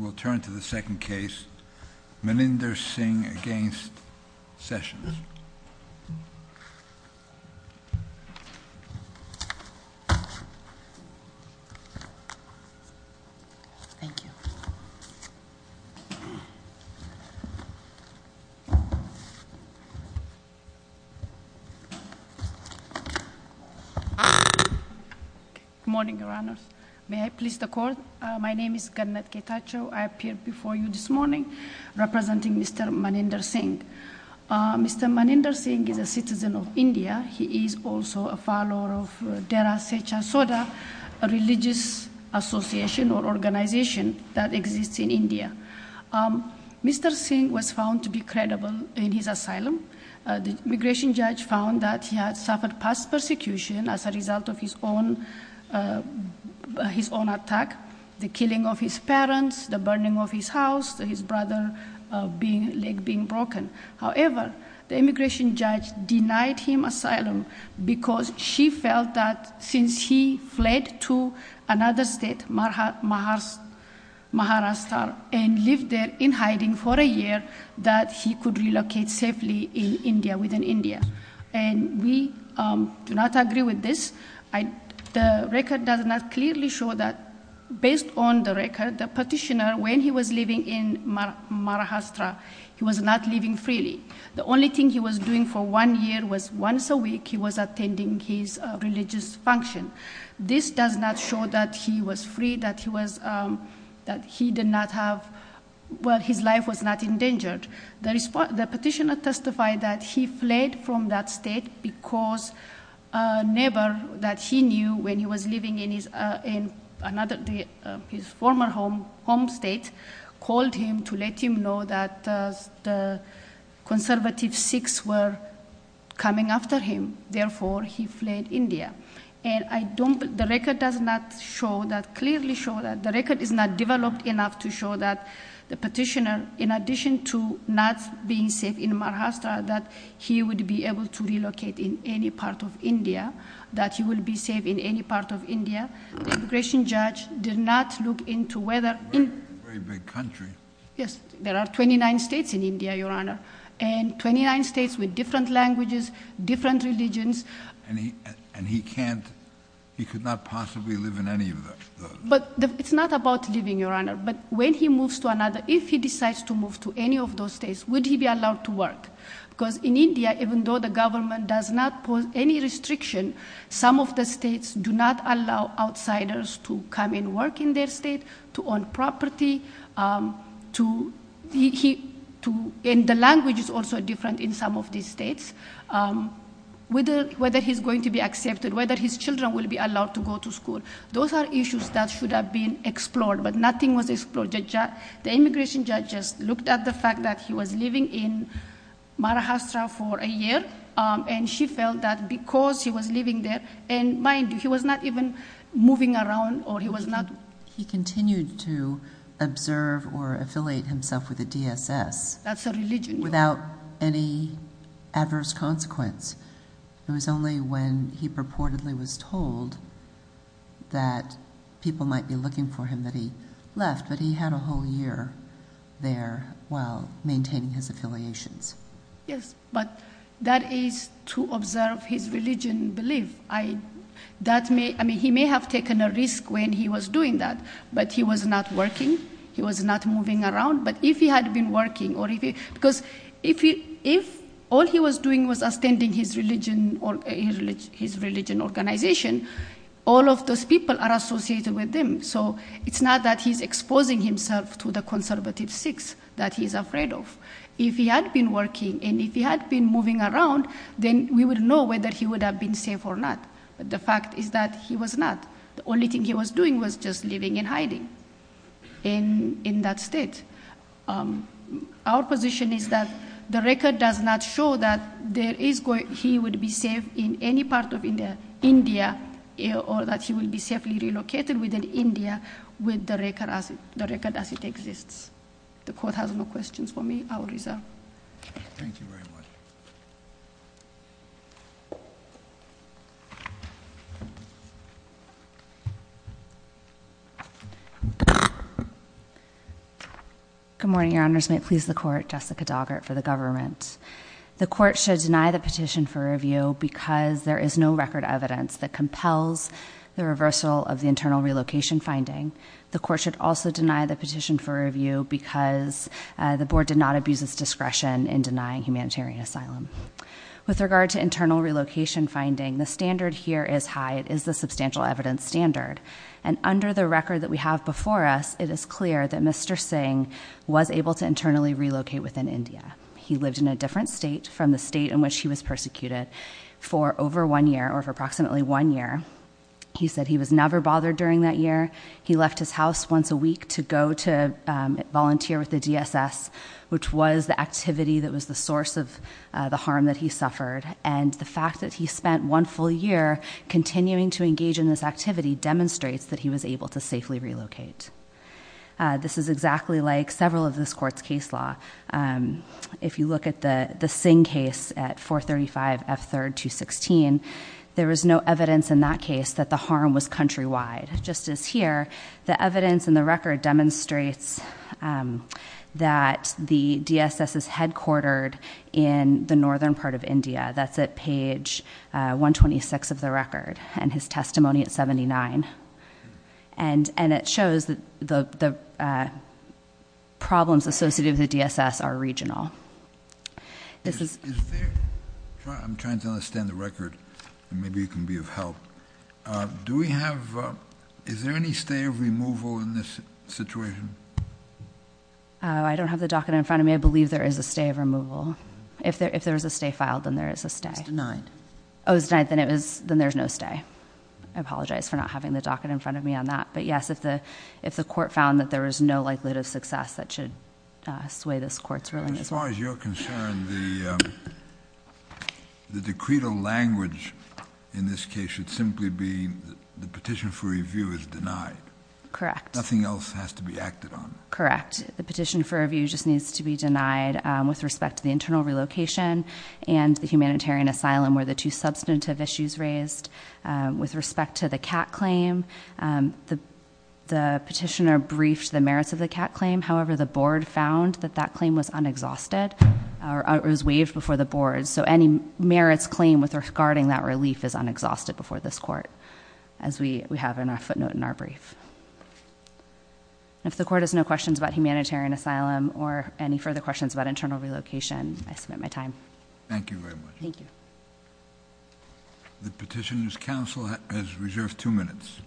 We'll turn to the second case, Melinda Singh v. Sessions. Good morning, Your Honors. May I please the Court? My name is Gannet Ketacho. I appeared before you this morning representing Mr. Maninder Singh. Mr. Maninder Singh is a citizen of India. He is also a follower of Dera Seja Soda, a religious association or organization that exists in India. Mr. Singh was found to be credible in his asylum. The immigration judge found that he had suffered past persecution as a result of his own attack, the killing of his parents, the burning of his house, his brother's leg being broken. However, the immigration judge denied him asylum because she felt that since he fled to another state, Maharashtra, and lived there in hiding for a year, that he could relocate safely in India, within India. And we do not agree with this. The record does not clearly show that, based on the record, the petitioner, when he was living in Maharashtra, he was not living freely. The only thing he was doing for one year was once a week he was attending his religious function. This does not show that he was free, that he did not have, well, his life was not endangered. The petitioner testified that he fled from that state because a neighbor that he knew when he was living in his former home state called him to let him know that the conservative Sikhs were coming after him. Therefore, he fled India. And I don't, the record does not show that, clearly show that, the record is not developed enough to show that the petitioner, in addition to not being safe in Maharashtra, that he would be able to relocate in any part of India, that he would be safe in any part of India. The immigration judge did not look into whether... Very big country. Yes, there are 29 states in India, Your Honor, and 29 states with different languages, different religions. And he can't, he could not possibly live in any of those. But it's not about living, Your Honor, but when he moves to another, if he decides to move to any of those states, would he be allowed to work? Because in India, even though the government does not pose any restriction, some of the states do not allow outsiders to come and work in their state, to own property, to... That should have been explored, but nothing was explored. The immigration judge just looked at the fact that he was living in Maharashtra for a year, and she felt that because he was living there, and mind you, he was not even moving around, or he was not... He continued to observe or affiliate himself with the DSS. That's a religion. Without any adverse consequence. It was only when he purportedly was told that people might be looking for him that he left, but he had a whole year there while maintaining his affiliations. Yes, but that is to observe his religion belief. I, that may, I mean, he may have taken a risk when he was doing that, but he was not working, he was not moving around, but if he had been working, or if he, because if he, if all he was doing was extending his religion, his religion organization, all of those people are associated with him. So it's not that he's exposing himself to the conservative Sikhs that he's afraid of. If he had been working, and if he had been moving around, then we would know whether he would have been safe or not, but the fact is that he was not. The only thing he was doing was just living in hiding in that state. Our position is that the record does not show that there is, he would be safe in any part of India, or that he would be safely relocated within India with the record as it exists. The court has no questions for me. I will reserve. Thank you very much. Good morning, your honors. May it please the court, Jessica Doggart for the government. The court should deny the petition for review because there is no record evidence that compels the reversal of the internal relocation finding. The court should also deny the petition for review because the board did not abuse its discretion in denying humanitarian asylum. With regard to internal relocation finding, the standard here is high. It is the substantial evidence standard. And under the record that we have before us, it is clear that Mr. Singh was able to internally relocate within India. He lived in a different state from the state in which he was persecuted for over one year, or for approximately one year. He said he was never bothered during that year. He left his house once a week to go to volunteer with the DSS, which was the activity that was the source of the harm that he suffered. And the fact that he spent one full year continuing to engage in this activity demonstrates that he was able to safely relocate. This is exactly like several of this court's case law. If you look at the Singh case at 435F3216, there was no evidence in that case that the harm was countrywide. Just as here, the evidence in the record demonstrates that the DSS is headquartered in the northern part of India. That's at page 126 of the record, and his testimony at 79. And it shows that the problems associated with the DSS are regional. I'm trying to understand the record. Maybe you can be of help. Is there any stay of removal in this situation? I don't have the docket in front of me. I believe there is a stay of removal. If there is a stay filed, then there is a stay. It's denied. Oh, it's denied. Then there's no stay. I apologize for not having the docket in front of me on that. But yes, if the court found that there was no likelihood of success, that should sway this court's ruling as well. As far as you're concerned, the decreed language in this case should simply be the petition for review is denied. Correct. Nothing else has to be acted on. Correct. The petition for review just needs to be denied with respect to the internal relocation and the humanitarian asylum where the two substantive issues raised. With respect to the cat claim, the petitioner briefed the merits of the cat claim. However, the board found that that claim was unexhausted, or it was waived before the board. So any merits claim regarding that relief is unexhausted before this court, as we have in our footnote in our brief. If the court has no questions about humanitarian asylum or any further questions about internal relocation, I submit my time. Thank you very much. Thank you. The petitioner's counsel has reserved two minutes.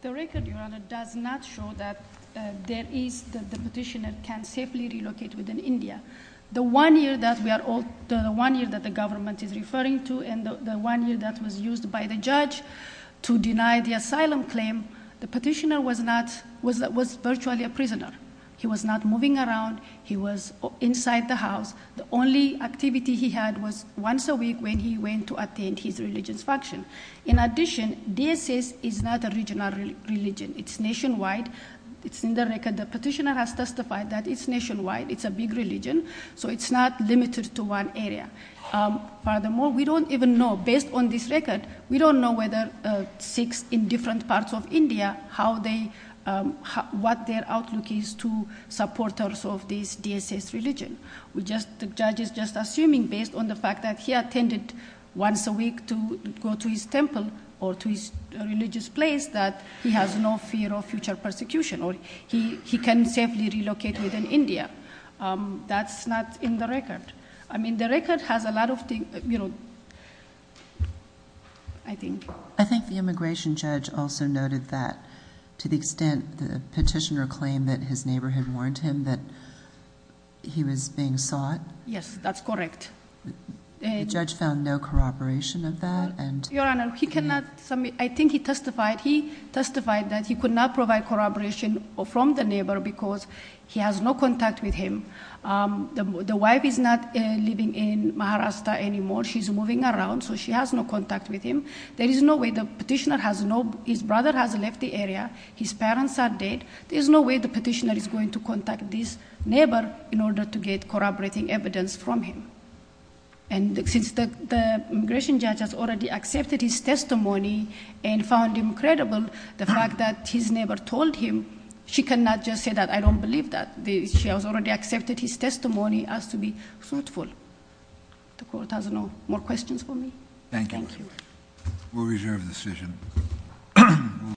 The record, Your Honor, does not show that the petitioner can safely relocate within India. The one year that the government is referring to and the one year that was used by the judge to deny the asylum claim, the petitioner was virtually a prisoner. He was not moving around. He was inside the house. The only activity he had was once a week when he went to attend his religious function. In addition, DSS is not a regional religion. It's nationwide. It's in the record. The petitioner has testified that it's nationwide. It's a big religion, so it's not limited to one area. Furthermore, we don't even know, based on this record, we don't know whether Sikhs in different parts of India, what their outlook is to supporters of this DSS religion. The judge is just assuming, based on the fact that he attended once a week to go to his temple or to his religious place, that he has no fear of future persecution or he can safely relocate within India. That's not in the record. The record has a lot of things, I think. I think the immigration judge also noted that to the extent the petitioner claimed that his neighbor had warned him that he was being sought. Yes, that's correct. The judge found no corroboration of that? Your Honor, I think he testified that he could not provide corroboration from the neighbor because he has no contact with him. The wife is not living in Maharashtra anymore. She's moving around, so she has no contact with him. There is no way. The petitioner has no—his brother has left the area. His parents are dead. There is no way the petitioner is going to contact this neighbor in order to get corroborating evidence from him. And since the immigration judge has already accepted his testimony and found him credible, the fact that his neighbor told him, she cannot just say that I don't believe that. She has already accepted his testimony as to be fruitful. The Court has no more questions for me. Thank you. We'll reserve the decision.